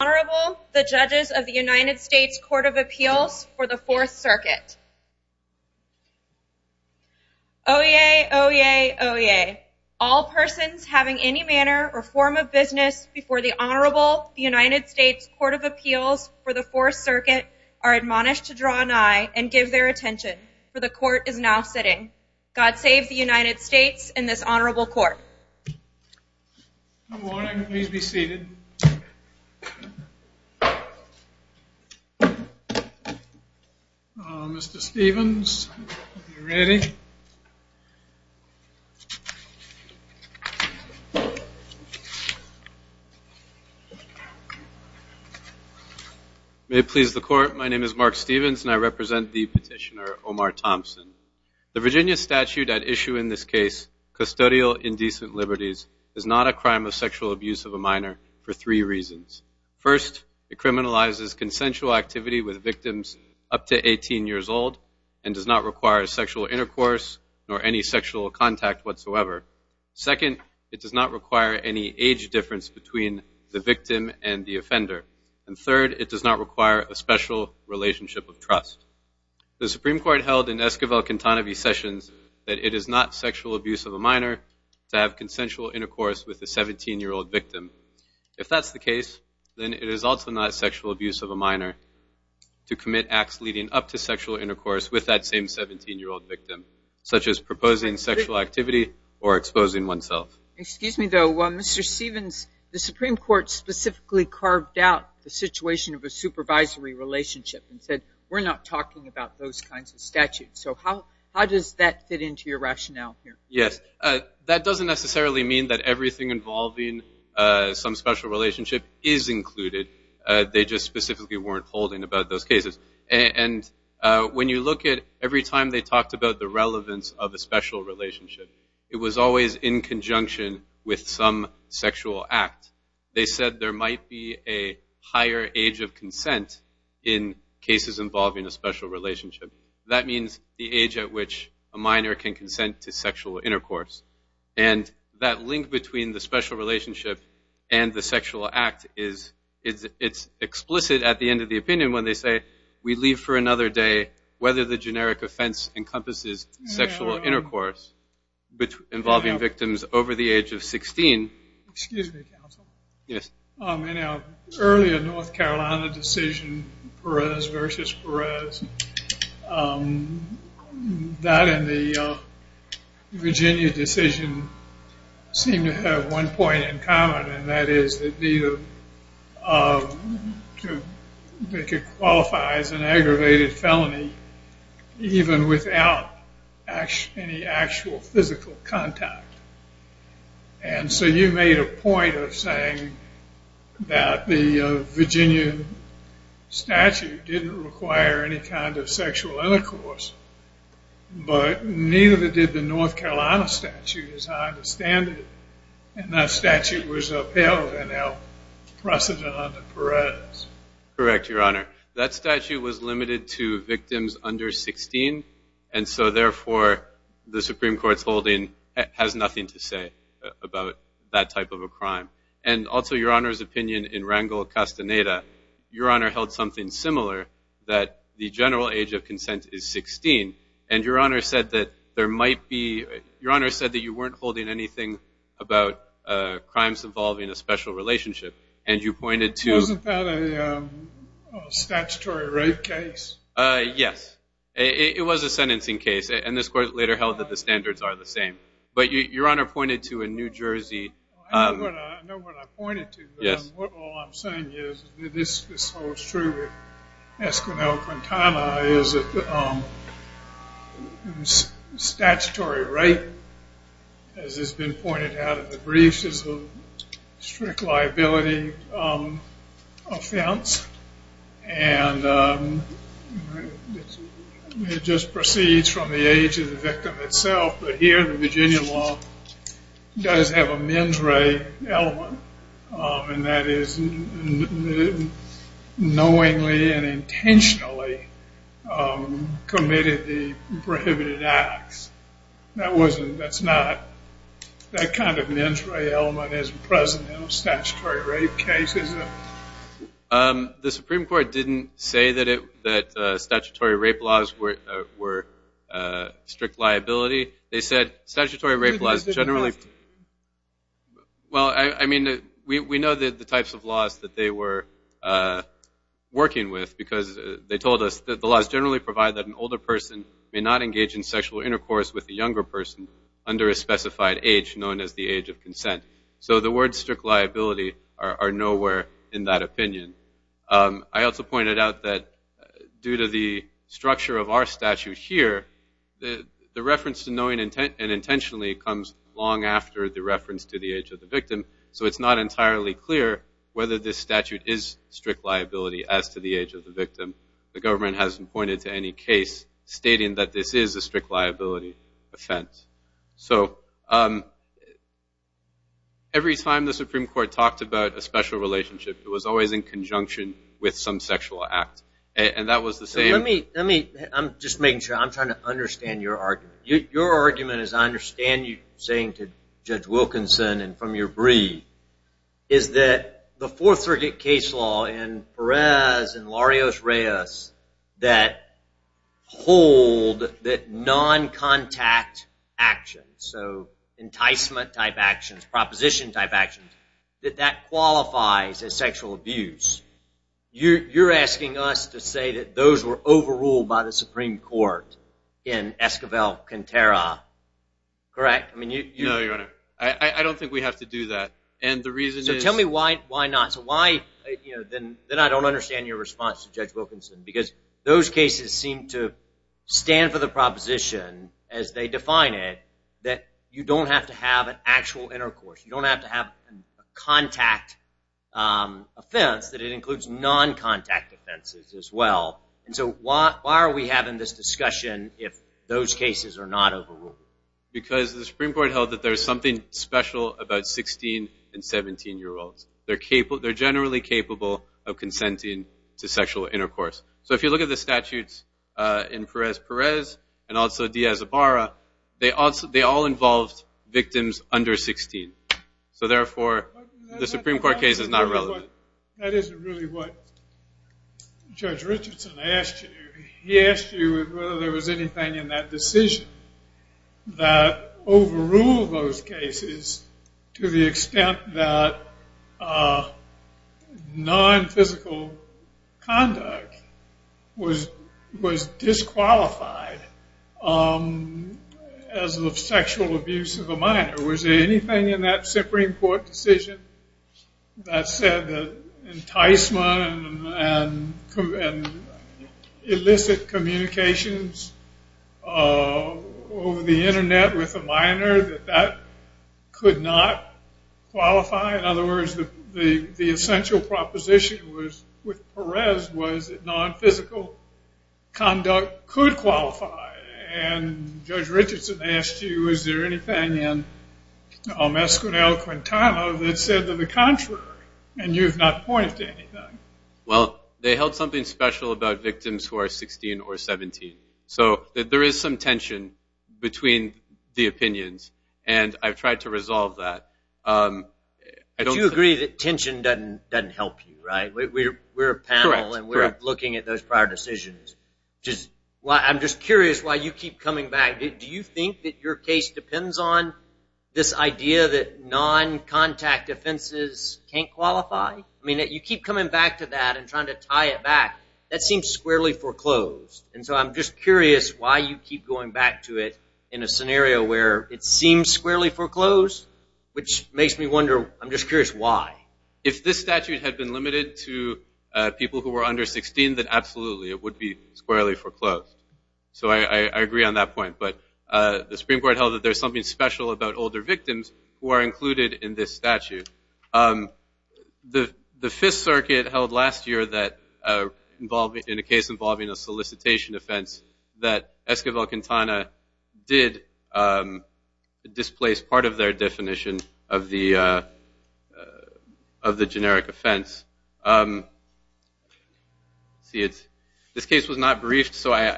Honorable, the Judges of the United States Court of Appeals for the 4th Circuit. Oyez, oyez, oyez. All persons having any manner or form of business before the Honorable United States Court of Appeals for the 4th Circuit are admonished to draw nigh and give their attention, for the Court is now sitting. God save the United States and this Honorable Court. Good morning. Please be seated. Mr. Stevens, are you ready? May it please the Court, my name is Mark Stevens and I represent the petitioner Omar Thompson. The Virginia statute at issue in this case, custodial indecent liberties, is not a crime of sexual abuse of a minor for three reasons. First, it criminalizes consensual activity with victims up to 18 years old and does not require sexual intercourse or any sexual contact whatsoever. Second, it does not require any age difference between the victim and the offender. And third, it does not require a special relationship of trust. The Supreme Court held in Esquivel-Cantanovi sessions that it is not sexual abuse of a minor to have consensual intercourse with a 17-year-old victim. If that's the case, then it is also not sexual abuse of a minor to commit acts leading up to sexual intercourse with that same 17-year-old victim, such as proposing sexual activity or exposing oneself. Excuse me though, Mr. Stevens, the Supreme Court specifically carved out the situation of a supervisory relationship and said we're not talking about those kinds of statutes. So how does that fit into your rationale here? That doesn't necessarily mean that everything involving some special relationship is included. They just specifically weren't holding about those cases. And when you look at every time they talked about the relevance of a special relationship, it was always in conjunction with some sexual act. They said there might be a higher age of consent in cases involving a special relationship. That means the age at which a minor can consent to sexual intercourse. And that link between the special relationship and the sexual act, it's explicit at the end of the opinion when they say we leave for another day, whether the generic offense encompasses sexual intercourse involving victims over the age of 16. Excuse me, counsel. Yes. In our earlier North Carolina decision, Perez versus Perez, that and the Virginia decision seem to have one point in common, and that is that they could qualify as an aggravated felony even without any actual physical contact. And so you made a point of saying that the Virginia statute didn't require any kind of sexual intercourse, but neither did the North Carolina statute, as I understand it. And that statute was upheld in our precedent under Perez. Correct, Your Honor. That statute was limited to victims under 16, and so therefore the Supreme Court's holding has nothing to say about that type of a crime. And also, Your Honor's opinion in Rangel-Castaneda, Your Honor held something similar, that the general age of consent is 16, and Your Honor said that you weren't holding anything about crimes involving a special relationship, and you pointed to- Wasn't that a statutory rape case? Yes. It was a sentencing case, and this Court later held that the standards are the same. But Your Honor pointed to a New Jersey- I know what I pointed to, but all I'm saying is this holds true with Esquivel-Quintana, is that statutory rape, as has been pointed out in the briefs, is a strict liability offense, and it just proceeds from the age of the victim itself. But here the Virginia law does have a mens re element, and that is knowingly and intentionally committed the prohibited acts. That kind of mens re element isn't present in a statutory rape case, is it? The Supreme Court didn't say that statutory rape laws were strict liability. They said statutory rape laws generally- Well, I mean, we know the types of laws that they were working with, because they told us that the laws generally provide that an older person may not engage in sexual intercourse with a younger person under a specified age, known as the age of consent. So the words strict liability are nowhere in that opinion. I also pointed out that due to the structure of our statute here, the reference to knowingly and intentionally comes long after the reference to the age of the victim, so it's not entirely clear whether this statute is strict liability as to the age of the victim. The government hasn't pointed to any case stating that this is a strict liability offense. So every time the Supreme Court talked about a special relationship, it was always in conjunction with some sexual act, and that was the same- Let me- I'm just making sure. I'm trying to understand your argument. Your argument, as I understand you saying to Judge Wilkinson and from your brief, is that the Fourth Circuit case law in Perez and Larios-Reyes that hold that non-contact action, so enticement-type actions, proposition-type actions, that that qualifies as sexual abuse. You're asking us to say that those were overruled by the Supreme Court in Esquivel-Quintero, correct? No, Your Honor. I don't think we have to do that. And the reason is- So tell me why not. So why- then I don't understand your response to Judge Wilkinson, because those cases seem to stand for the proposition, as they define it, that you don't have to have an actual intercourse. You don't have to have a contact offense, that it includes non-contact offenses as well. And so why are we having this discussion if those cases are not overruled? Because the Supreme Court held that there's something special about 16- and 17-year-olds. They're generally capable of consenting to sexual intercourse. So if you look at the statutes in Perez-Perez and also Diaz-Zabara, they all involved victims under 16. So therefore, the Supreme Court case is not relevant. That isn't really what Judge Richardson asked you. He asked you whether there was anything in that decision that overruled those cases to the extent that non-physical conduct was disqualified as of sexual abuse of a minor. Was there anything in that Supreme Court decision that said that enticement and illicit communications over the Internet with a minor, that that could not qualify? In other words, the essential proposition with Perez was that non-physical conduct could qualify. And Judge Richardson asked you, is there anything in Olmec-Squinell-Quintana that said to the contrary, and you've not pointed to anything. Well, they held something special about victims who are 16 or 17. So there is some tension between the opinions, and I've tried to resolve that. But you agree that tension doesn't help you, right? We're a panel, and we're looking at those prior decisions. I'm just curious why you keep coming back. Do you think that your case depends on this idea that non-contact offenses can't qualify? I mean, you keep coming back to that and trying to tie it back. That seems squarely foreclosed, and so I'm just curious why you keep going back to it in a scenario where it seems squarely foreclosed, which makes me wonder. I'm just curious why. If this statute had been limited to people who were under 16, then absolutely it would be squarely foreclosed. So I agree on that point. But the Supreme Court held that there's something special about older victims who are included in this statute. The Fifth Circuit held last year in a case involving a solicitation offense that Esquivel-Quintana did displace part of their definition of the generic offense. This case was not briefed, so I'm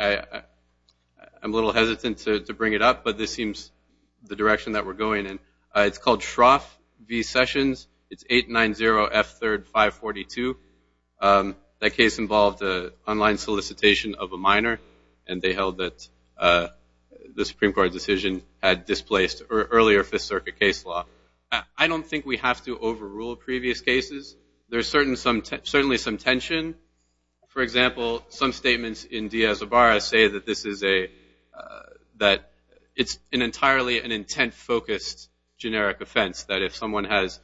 a little hesitant to bring it up, but this seems the direction that we're going in. It's called Shroff v. Sessions. It's 890-F3-542. That case involved an online solicitation of a minor, and they held that the Supreme Court decision had displaced earlier Fifth Circuit case law. I don't think we have to overrule previous cases. There's certainly some tension. For example, some statements in Diaz-Obarra say that this is an entirely intent-focused generic offense, that if someone has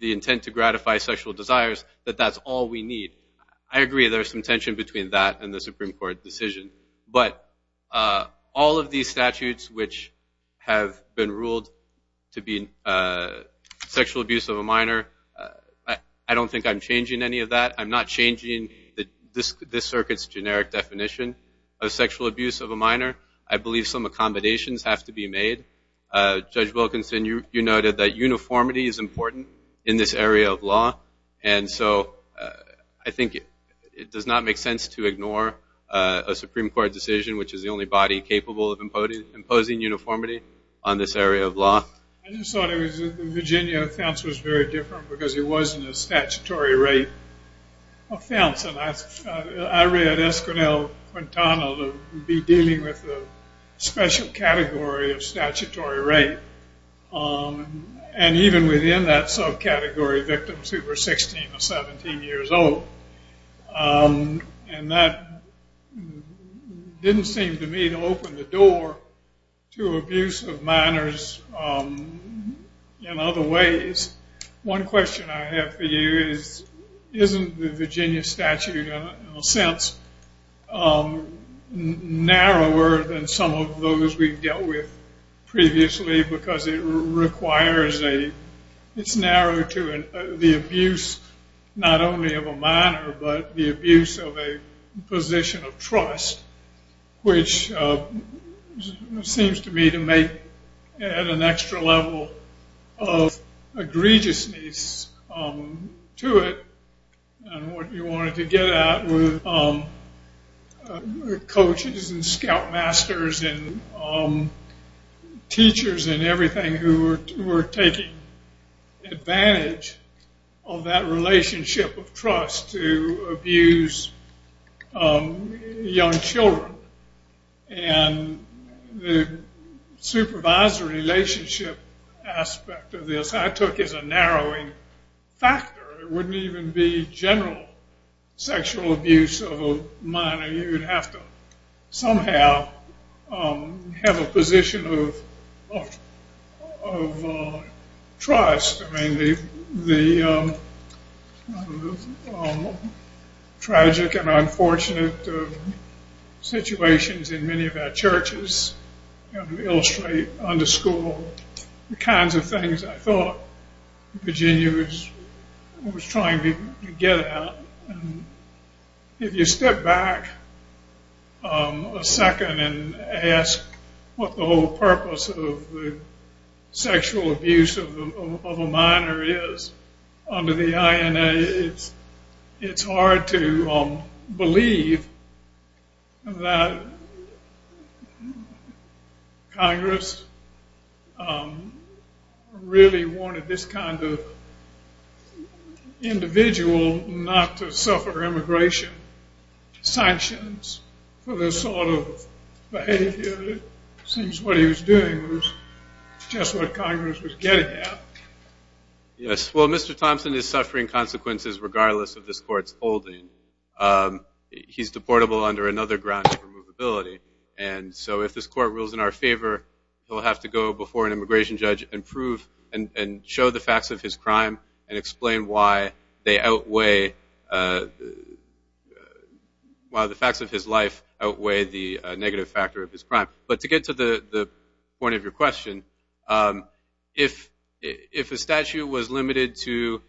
the intent to gratify sexual desires, that that's all we need. I agree there's some tension between that and the Supreme Court decision, but all of these statutes which have been ruled to be sexual abuse of a minor, I don't think I'm changing any of that. I'm not changing this circuit's generic definition of sexual abuse of a minor. I believe some accommodations have to be made. Judge Wilkinson, you noted that uniformity is important in this area of law, and so I think it does not make sense to ignore a Supreme Court decision, which is the only body capable of imposing uniformity on this area of law. I just thought the Virginia offense was very different because it wasn't a statutory rape offense. I read Esquenelle Quintana to be dealing with a special category of statutory rape, and even within that subcategory, victims who were 16 or 17 years old, and that didn't seem to me to open the door to abuse of minors in other ways. One question I have for you is, isn't the Virginia statute in a sense narrower than some of those we've dealt with previously because it's narrow to the abuse not only of a minor, but the abuse of a position of trust, which seems to me to make an extra level of egregiousness to it, and what you wanted to get at with coaches and scoutmasters and teachers and everything who were taking advantage of that relationship of trust to abuse young children, and the supervisory relationship aspect of this I took as a narrowing factor. It wouldn't even be general sexual abuse of a minor. You would have to somehow have a position of trust. I mean, the tragic and unfortunate situations in many of our churches illustrate, underscore, the kinds of things I thought Virginia was trying to get at. If you step back a second and ask what the whole purpose of the sexual abuse of a minor is under the INA, it's hard to believe that Congress really wanted this kind of individual not to suffer immigration sanctions for this sort of behavior. It seems what he was doing was just what Congress was getting at. Yes, well, Mr. Thompson is suffering consequences regardless of this court's holding. He's deportable under another ground of removability, and so if this court rules in our favor, he'll have to go before an immigration judge and show the facts of his crime and explain why the facts of his life outweigh the negative factor of his crime. But to get to the point of your question, if a statute was limited to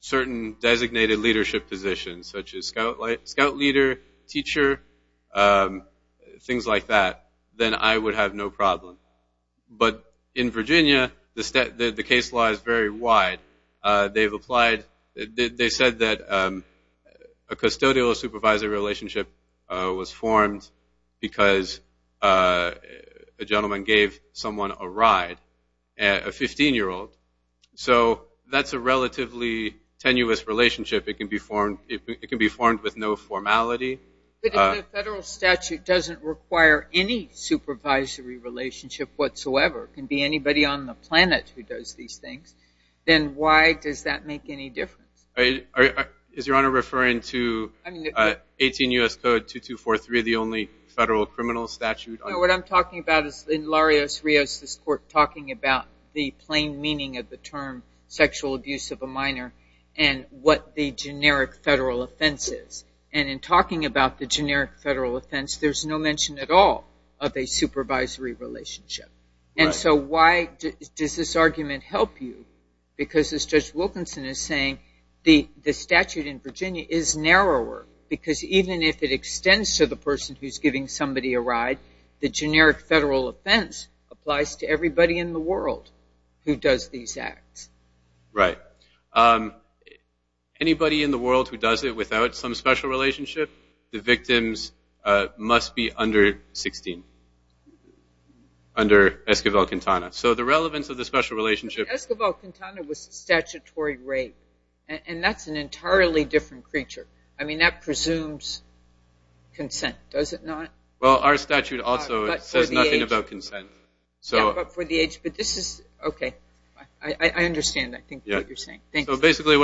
certain designated leadership positions, such as scout leader, teacher, things like that, then I would have no problem. But in Virginia, the case law is very wide. They said that a custodial supervisory relationship was formed because a gentleman gave someone a ride, a 15-year-old. So that's a relatively tenuous relationship. It can be formed with no formality. But if the federal statute doesn't require any supervisory relationship whatsoever, it can be anybody on the planet who does these things, then why does that make any difference? Is Your Honor referring to 18 U.S. Code 2243, the only federal criminal statute? No, what I'm talking about is in Larios-Rios, this court talking about the plain meaning of the term sexual abuse of a minor and what the generic federal offense is. And in talking about the generic federal offense, there's no mention at all of a supervisory relationship. And so why does this argument help you? Because as Judge Wilkinson is saying, the statute in Virginia is narrower, because even if it extends to the person who's giving somebody a ride, the generic federal offense applies to everybody in the world who does these acts. Right. Anybody in the world who does it without some special relationship, the victims must be under 16. Under Esquivel-Quintana. So the relevance of the special relationship- Esquivel-Quintana was a statutory rape, and that's an entirely different creature. I mean, that presumes consent, does it not? Well, our statute also says nothing about consent. Yeah, but for the age. But this is, okay. I understand, I think, what you're saying. So basically,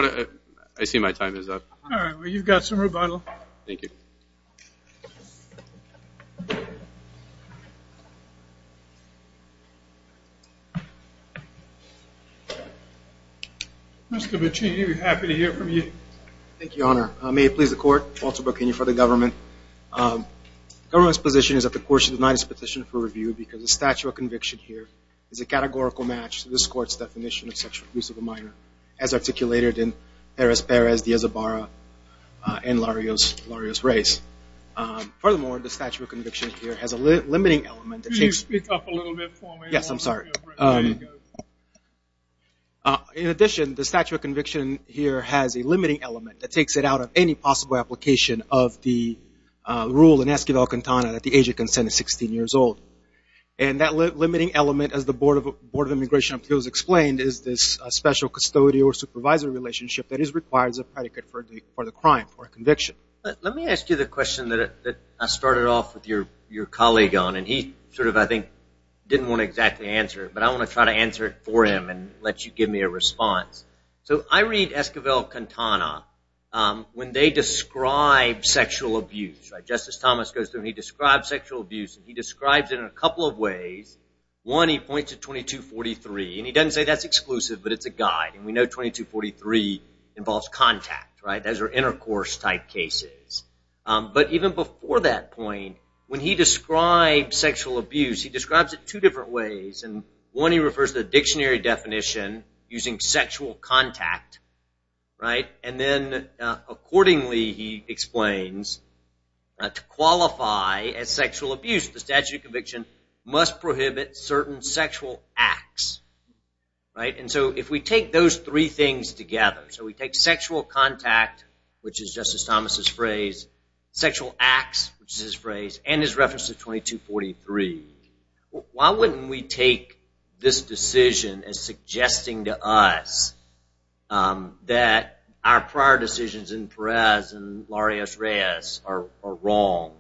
I see my time is up. All right. Well, you've got some rebuttal. Thank you. Mr. Bocchini, we're happy to hear from you. Thank you, Your Honor. May it please the Court, Walter Bocchini for the government. The government's position is that the court should deny this petition for review because the statute of conviction here is a categorical match to this court's definition of sexual abuse of a minor, as articulated in Perez-Perez, Diaz-Zabara, and Larios-Reyes. Could you speak up a little bit for me? Yes, I'm sorry. In addition, the statute of conviction here has a limiting element that takes it out of any possible application of the rule in Esquivel-Quintana that the age of consent is 16 years old. And that limiting element, as the Board of Immigration Appeals explained, is this special custodial or supervisory relationship that is required as a predicate for the crime or conviction. Let me ask you the question that I started off with your colleague on, and he sort of, I think, didn't want to exactly answer it. But I want to try to answer it for him and let you give me a response. So I read Esquivel-Quintana when they describe sexual abuse. Just as Thomas goes through, he describes sexual abuse, and he describes it in a couple of ways. One, he points to 2243, and he doesn't say that's exclusive, but it's a guide. And we know 2243 involves contact. Those are intercourse-type cases. But even before that point, when he describes sexual abuse, he describes it two different ways. One, he refers to the dictionary definition using sexual contact. And then accordingly, he explains, to qualify as sexual abuse, the statute of conviction must prohibit certain sexual acts. And so if we take those three things together, so we take sexual contact, which is Justice Thomas' phrase, sexual acts, which is his phrase, and his reference to 2243, why wouldn't we take this decision as suggesting to us that our prior decisions in Perez and Larios-Reyes are wrong?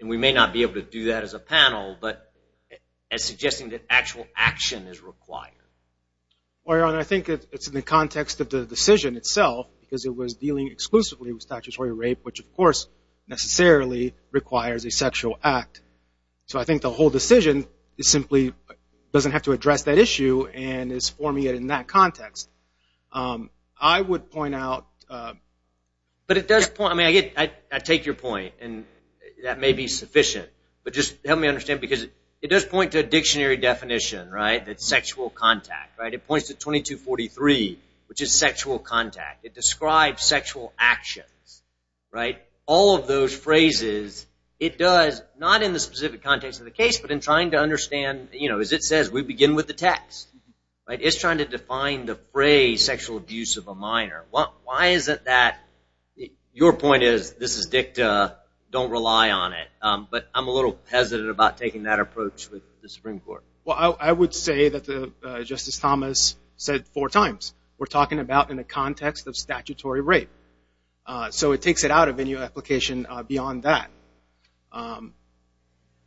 And we may not be able to do that as a panel, but as suggesting that actual action is required. Well, Your Honor, I think it's in the context of the decision itself, because it was dealing exclusively with statutory rape, which, of course, necessarily requires a sexual act. So I think the whole decision simply doesn't have to address that issue and is forming it in that context. I would point out – But it does point – I mean, I take your point, and that may be sufficient. But just help me understand, because it does point to a dictionary definition, right, that's sexual contact, right? It points to 2243, which is sexual contact. It describes sexual actions, right? All of those phrases, it does, not in the specific context of the case, but in trying to understand, you know, as it says, we begin with the text, right? It's trying to define the phrase sexual abuse of a minor. Why is it that – your point is, this is dicta, don't rely on it. But I'm a little hesitant about taking that approach with the Supreme Court. Well, I would say that, just as Thomas said four times, we're talking about in the context of statutory rape. So it takes it out of any application beyond that.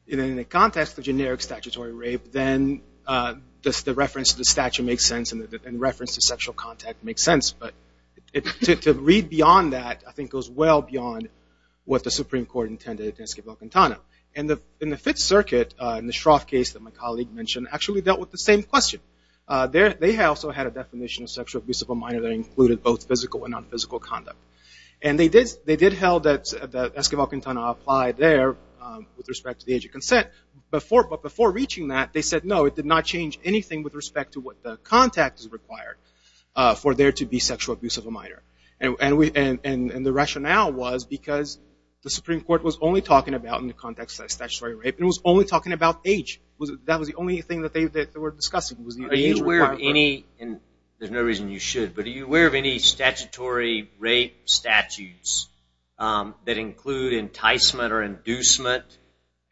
In the context of generic statutory rape, then the reference to the statute makes sense and the reference to sexual contact makes sense. But to read beyond that, I think, goes well beyond what the Supreme Court intended in Esquivel-Quintana. And in the Fifth Circuit, in the Shroff case that my colleague mentioned, actually dealt with the same question. They also had a definition of sexual abuse of a minor that included both physical and nonphysical conduct. And they did held that Esquivel-Quintana applied there with respect to the age of consent. But before reaching that, they said, no, it did not change anything with respect to what the contact is required for there to be sexual abuse of a minor. And the rationale was because the Supreme Court was only talking about, in the context of statutory rape, it was only talking about age. That was the only thing that they were discussing, was the age requirement. Are you aware of any – and there's no reason you should – but are you aware of any statutory rape statutes that include enticement or inducement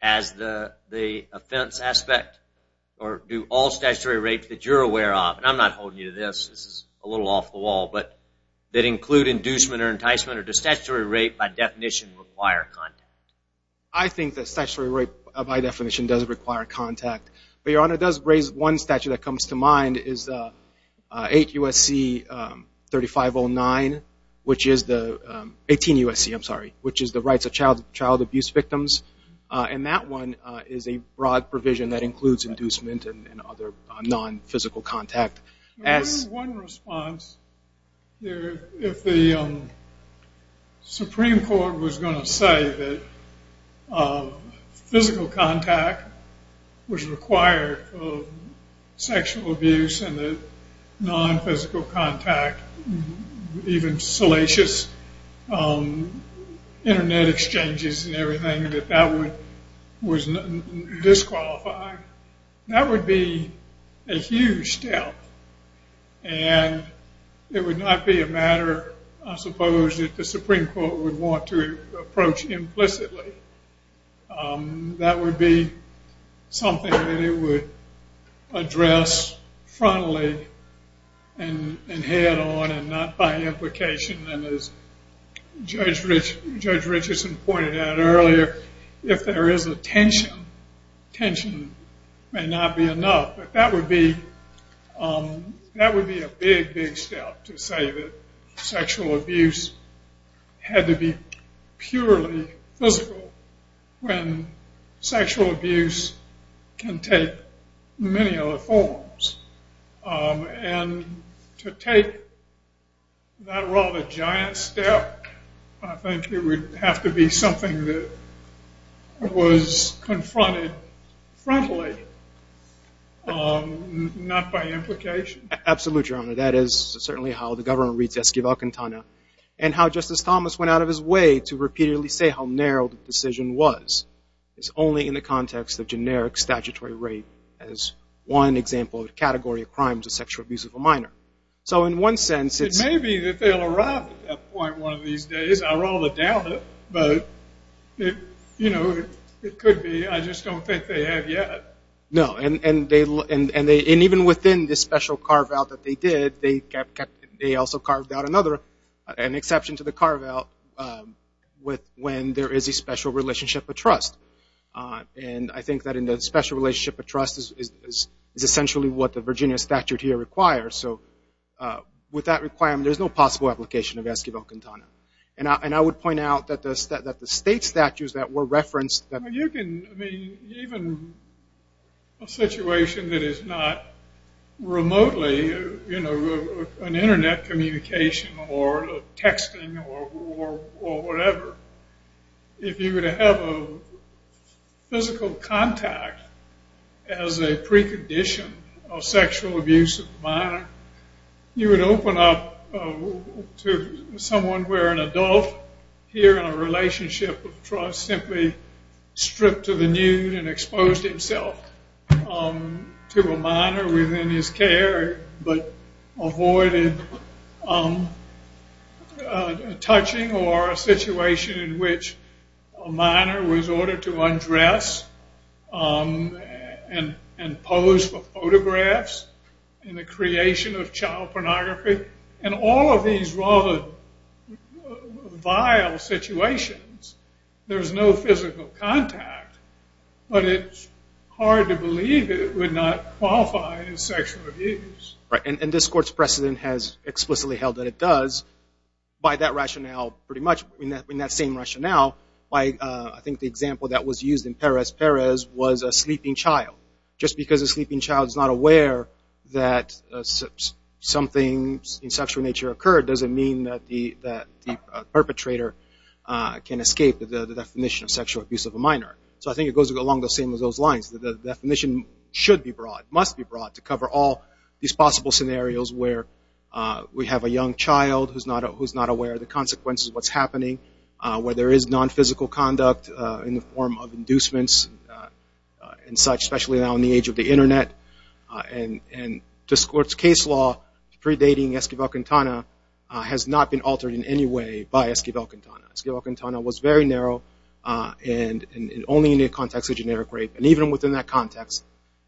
as the offense aspect? Or do all statutory rapes that you're aware of – and I'm not holding you to this, this is a little off the wall – but that include inducement or enticement, or does statutory rape, by definition, require contact? I think that statutory rape, by definition, does require contact. But, Your Honor, it does raise one statute that comes to mind is 8 U.S.C. 3509, which is the – 18 U.S.C., I'm sorry – which is the Rights of Child Abuse Victims. And that one is a broad provision that includes inducement and other non-physical contact. One response, if the Supreme Court was going to say that physical contact was required for sexual abuse and that non-physical contact, even salacious Internet exchanges and everything, that that would – was disqualifying, that would be a huge step. And it would not be a matter, I suppose, that the Supreme Court would want to approach implicitly. That would be something that it would address frontally and head-on and not by implication. And as Judge Richardson pointed out earlier, if there is a tension, tension may not be enough. But that would be a big, big step to say that sexual abuse had to be purely physical when sexual abuse can take many other forms. And to take that rather giant step, I think it would have to be something that was confronted frontally, not by implication. Absolutely, Your Honor. That is certainly how the government reads Esquivel-Quintana and how Justice Thomas went out of his way to repeatedly say how narrow the decision was. It's only in the context of generic statutory rape as one example of the category of crimes of sexual abuse of a minor. So in one sense, it's – It may be that they'll arrive at that point one of these days. I rather doubt it. But, you know, it could be. I just don't think they have yet. No, and they – and even within this special carve-out that they did, they also carved out another – an exception to the carve-out when there is a special relationship of trust. And I think that in the special relationship of trust is essentially what the Virginia statute here requires. So with that requirement, there's no possible application of Esquivel-Quintana. And I would point out that the state statutes that were referenced – I mean, even a situation that is not remotely, you know, an Internet communication or texting or whatever, if you were to have a physical contact as a precondition of sexual abuse of a minor, you would open up to someone where an adult here in a relationship of trust simply stripped to the nude and exposed himself to a minor within his care but avoided touching or a situation in which a minor was ordered to undress and pose for photographs in the creation of child pornography. In all of these rather vile situations, there's no physical contact. But it's hard to believe it would not qualify as sexual abuse. Right, and this Court's precedent has explicitly held that it does. By that rationale, pretty much in that same rationale, I think the example that was used in Perez-Perez was a sleeping child. Just because a sleeping child is not aware that something in sexual nature occurred doesn't mean that the perpetrator can escape the definition of sexual abuse of a minor. So I think it goes along the same as those lines. The definition should be broad, must be broad, to cover all these possible scenarios where we have a young child who's not aware of the consequences of what's happening, where there is nonphysical conduct in the form of inducements and such, especially now in the age of the Internet. And this Court's case law predating Esquivel-Quintana has not been altered in any way by Esquivel-Quintana. Esquivel-Quintana was very narrow and only in the context of generic rape. And even within that context,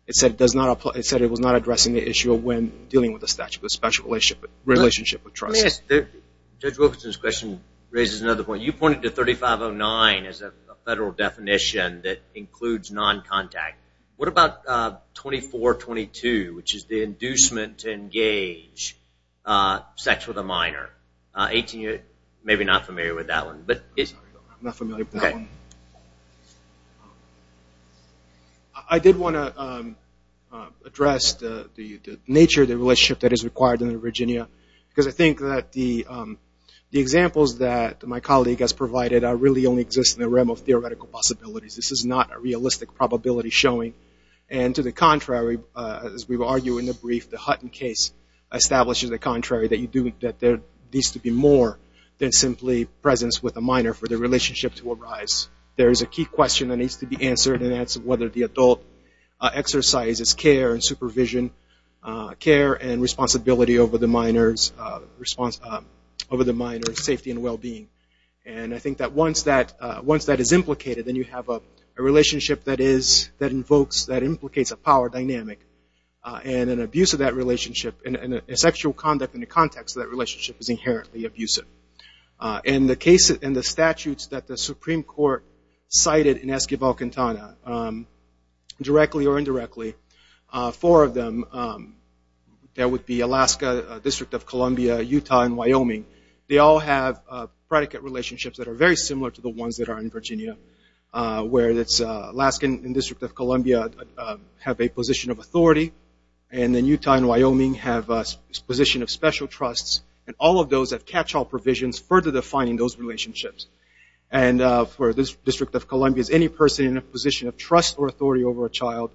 it said it was not addressing the issue of when dealing with a statute of special relationship with trust. Judge Wilkinson's question raises another point. You pointed to 3509 as a federal definition that includes noncontact. What about 2422, which is the inducement to engage sex with a minor? Maybe you're not familiar with that one. I'm not familiar with that one. I did want to address the nature of the relationship that is required in Virginia because I think that the examples that my colleague has provided really only exist in the realm of theoretical possibilities. This is not a realistic probability showing. And to the contrary, as we argue in the brief, the Hutton case establishes the contrary, that there needs to be more than simply presence with a minor for the relationship to arise. There is a key question that needs to be answered, and that's whether the adult exercises care and supervision, care and responsibility over the minor's safety and well-being. And I think that once that is implicated, then you have a relationship that invokes, that implicates a power dynamic. And an abuse of that relationship, and sexual conduct in the context of that relationship is inherently abusive. In the case, in the statutes that the Supreme Court cited in Esquivel-Quintana, directly or indirectly, four of them, that would be Alaska, District of Columbia, Utah, and Wyoming, they all have predicate relationships that are very similar to the ones that are in Virginia, where it's Alaska and District of Columbia have a position of authority, and then Utah and Wyoming have a position of special trusts, and all of those have catch-all provisions further defining those relationships. And for the District of Columbia, it's any person in a position of trust or authority over a child.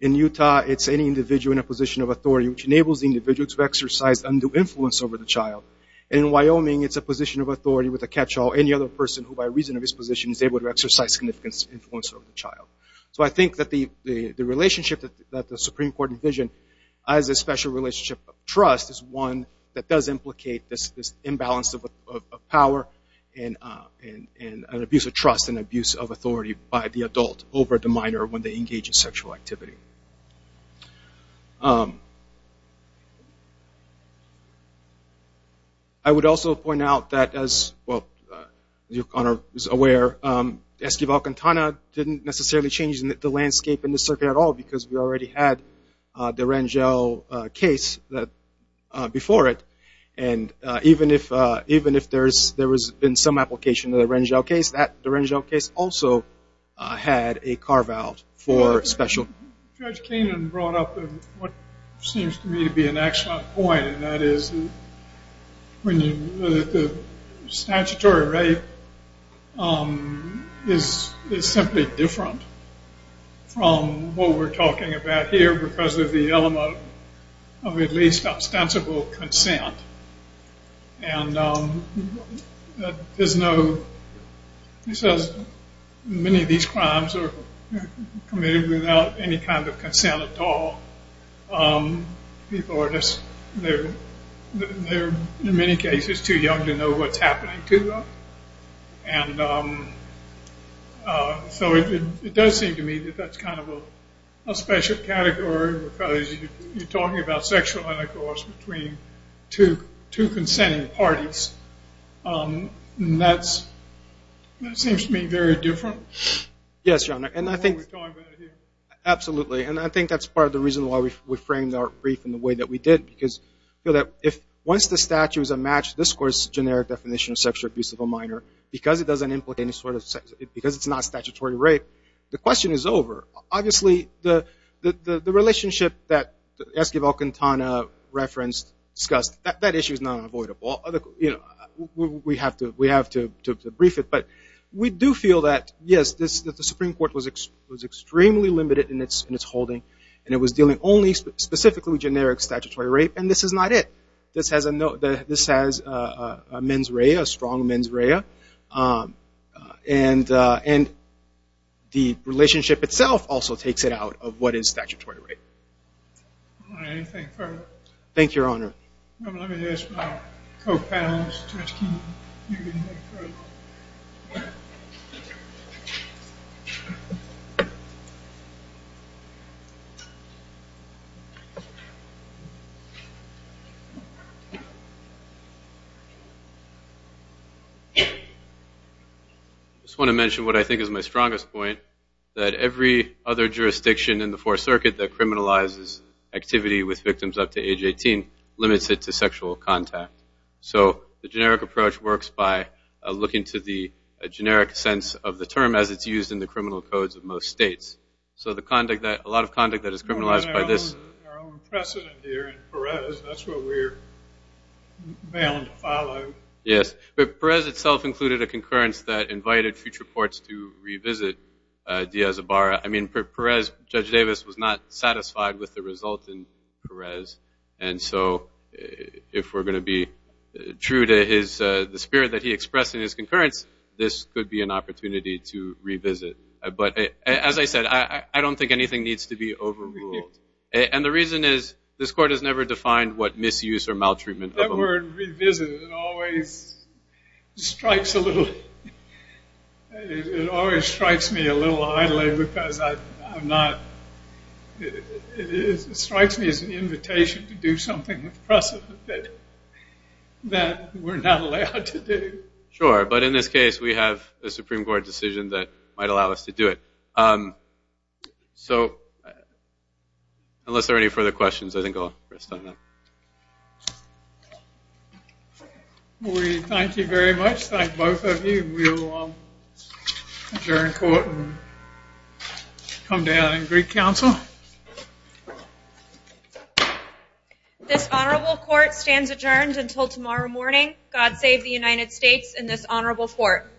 In Utah, it's any individual in a position of authority, which enables the individual to exercise undue influence over the child. And in Wyoming, it's a position of authority with a catch-all. Any other person who, by reason of his position, is able to exercise significant influence over the child. So I think that the relationship that the Supreme Court envisioned as a special relationship of trust is one that does implicate this imbalance of power and abuse of trust and abuse of authority by the adult over the minor when they engage in sexual activity. I would also point out that as, well, as your Honor is aware, Esquivel-Quintana didn't necessarily change the landscape in this circuit at all because we already had the Rangel case before it. And even if there has been some application of the Rangel case, that Rangel case also had a carve-out for special. Judge Keenan brought up what seems to me to be an excellent point, and that is the statutory rate is simply different from what we're talking about here because of the element of at least ostensible consent. And there's no, he says many of these crimes are committed without any kind of consent at all. People are just, they're in many cases too young to know what's happening to them. And so it does seem to me that that's kind of a special category because you're talking about sexual intercourse between two consenting parties. And that seems to me very different from what we're talking about here. Yes, Your Honor, and I think, absolutely, and I think that's part of the reason why we framed our brief in the way that we did because once the statute is a matched discourse generic definition of sexual abuse of a minor, because it doesn't implicate any sort of, because it's not statutory rape, the question is over. Obviously, the relationship that Esquivel-Quintana referenced, discussed, that issue is not unavoidable. We have to brief it. But we do feel that, yes, the Supreme Court was extremely limited in its holding, and it was dealing only specifically with generic statutory rape, and this is not it. This has a mens rea, a strong mens rea. And the relationship itself also takes it out of what is statutory rape. I just want to mention what I think is my strongest point, that every other jurisdiction in the Fourth Circuit that criminalizes activity with victims up to age 18 limits it to sexual contact. So the generic approach works by looking to the generic sense of the term as it's used in the criminal codes of most states. So the conduct that, a lot of conduct that is criminalized by this. Our own precedent here in Perez, that's what we're bound to follow. Yes, but Perez itself included a concurrence that invited future courts to revisit Diaz-Ibarra. I mean, Perez, Judge Davis was not satisfied with the result in Perez, and so if we're going to be true to the spirit that he expressed in his concurrence, this could be an opportunity to revisit. But as I said, I don't think anything needs to be overruled. And the reason is this Court has never defined what misuse or maltreatment of a woman. The word revisit, it always strikes a little, it always strikes me a little idly because I'm not, it strikes me as an invitation to do something with precedent that we're not allowed to do. Sure, but in this case we have a Supreme Court decision that might allow us to do it. So unless there are any further questions, I think I'll rest on that. We thank you very much, thank both of you. We will adjourn court and come down and greet counsel. This Honorable Court stands adjourned until tomorrow morning. God save the United States and this Honorable Court.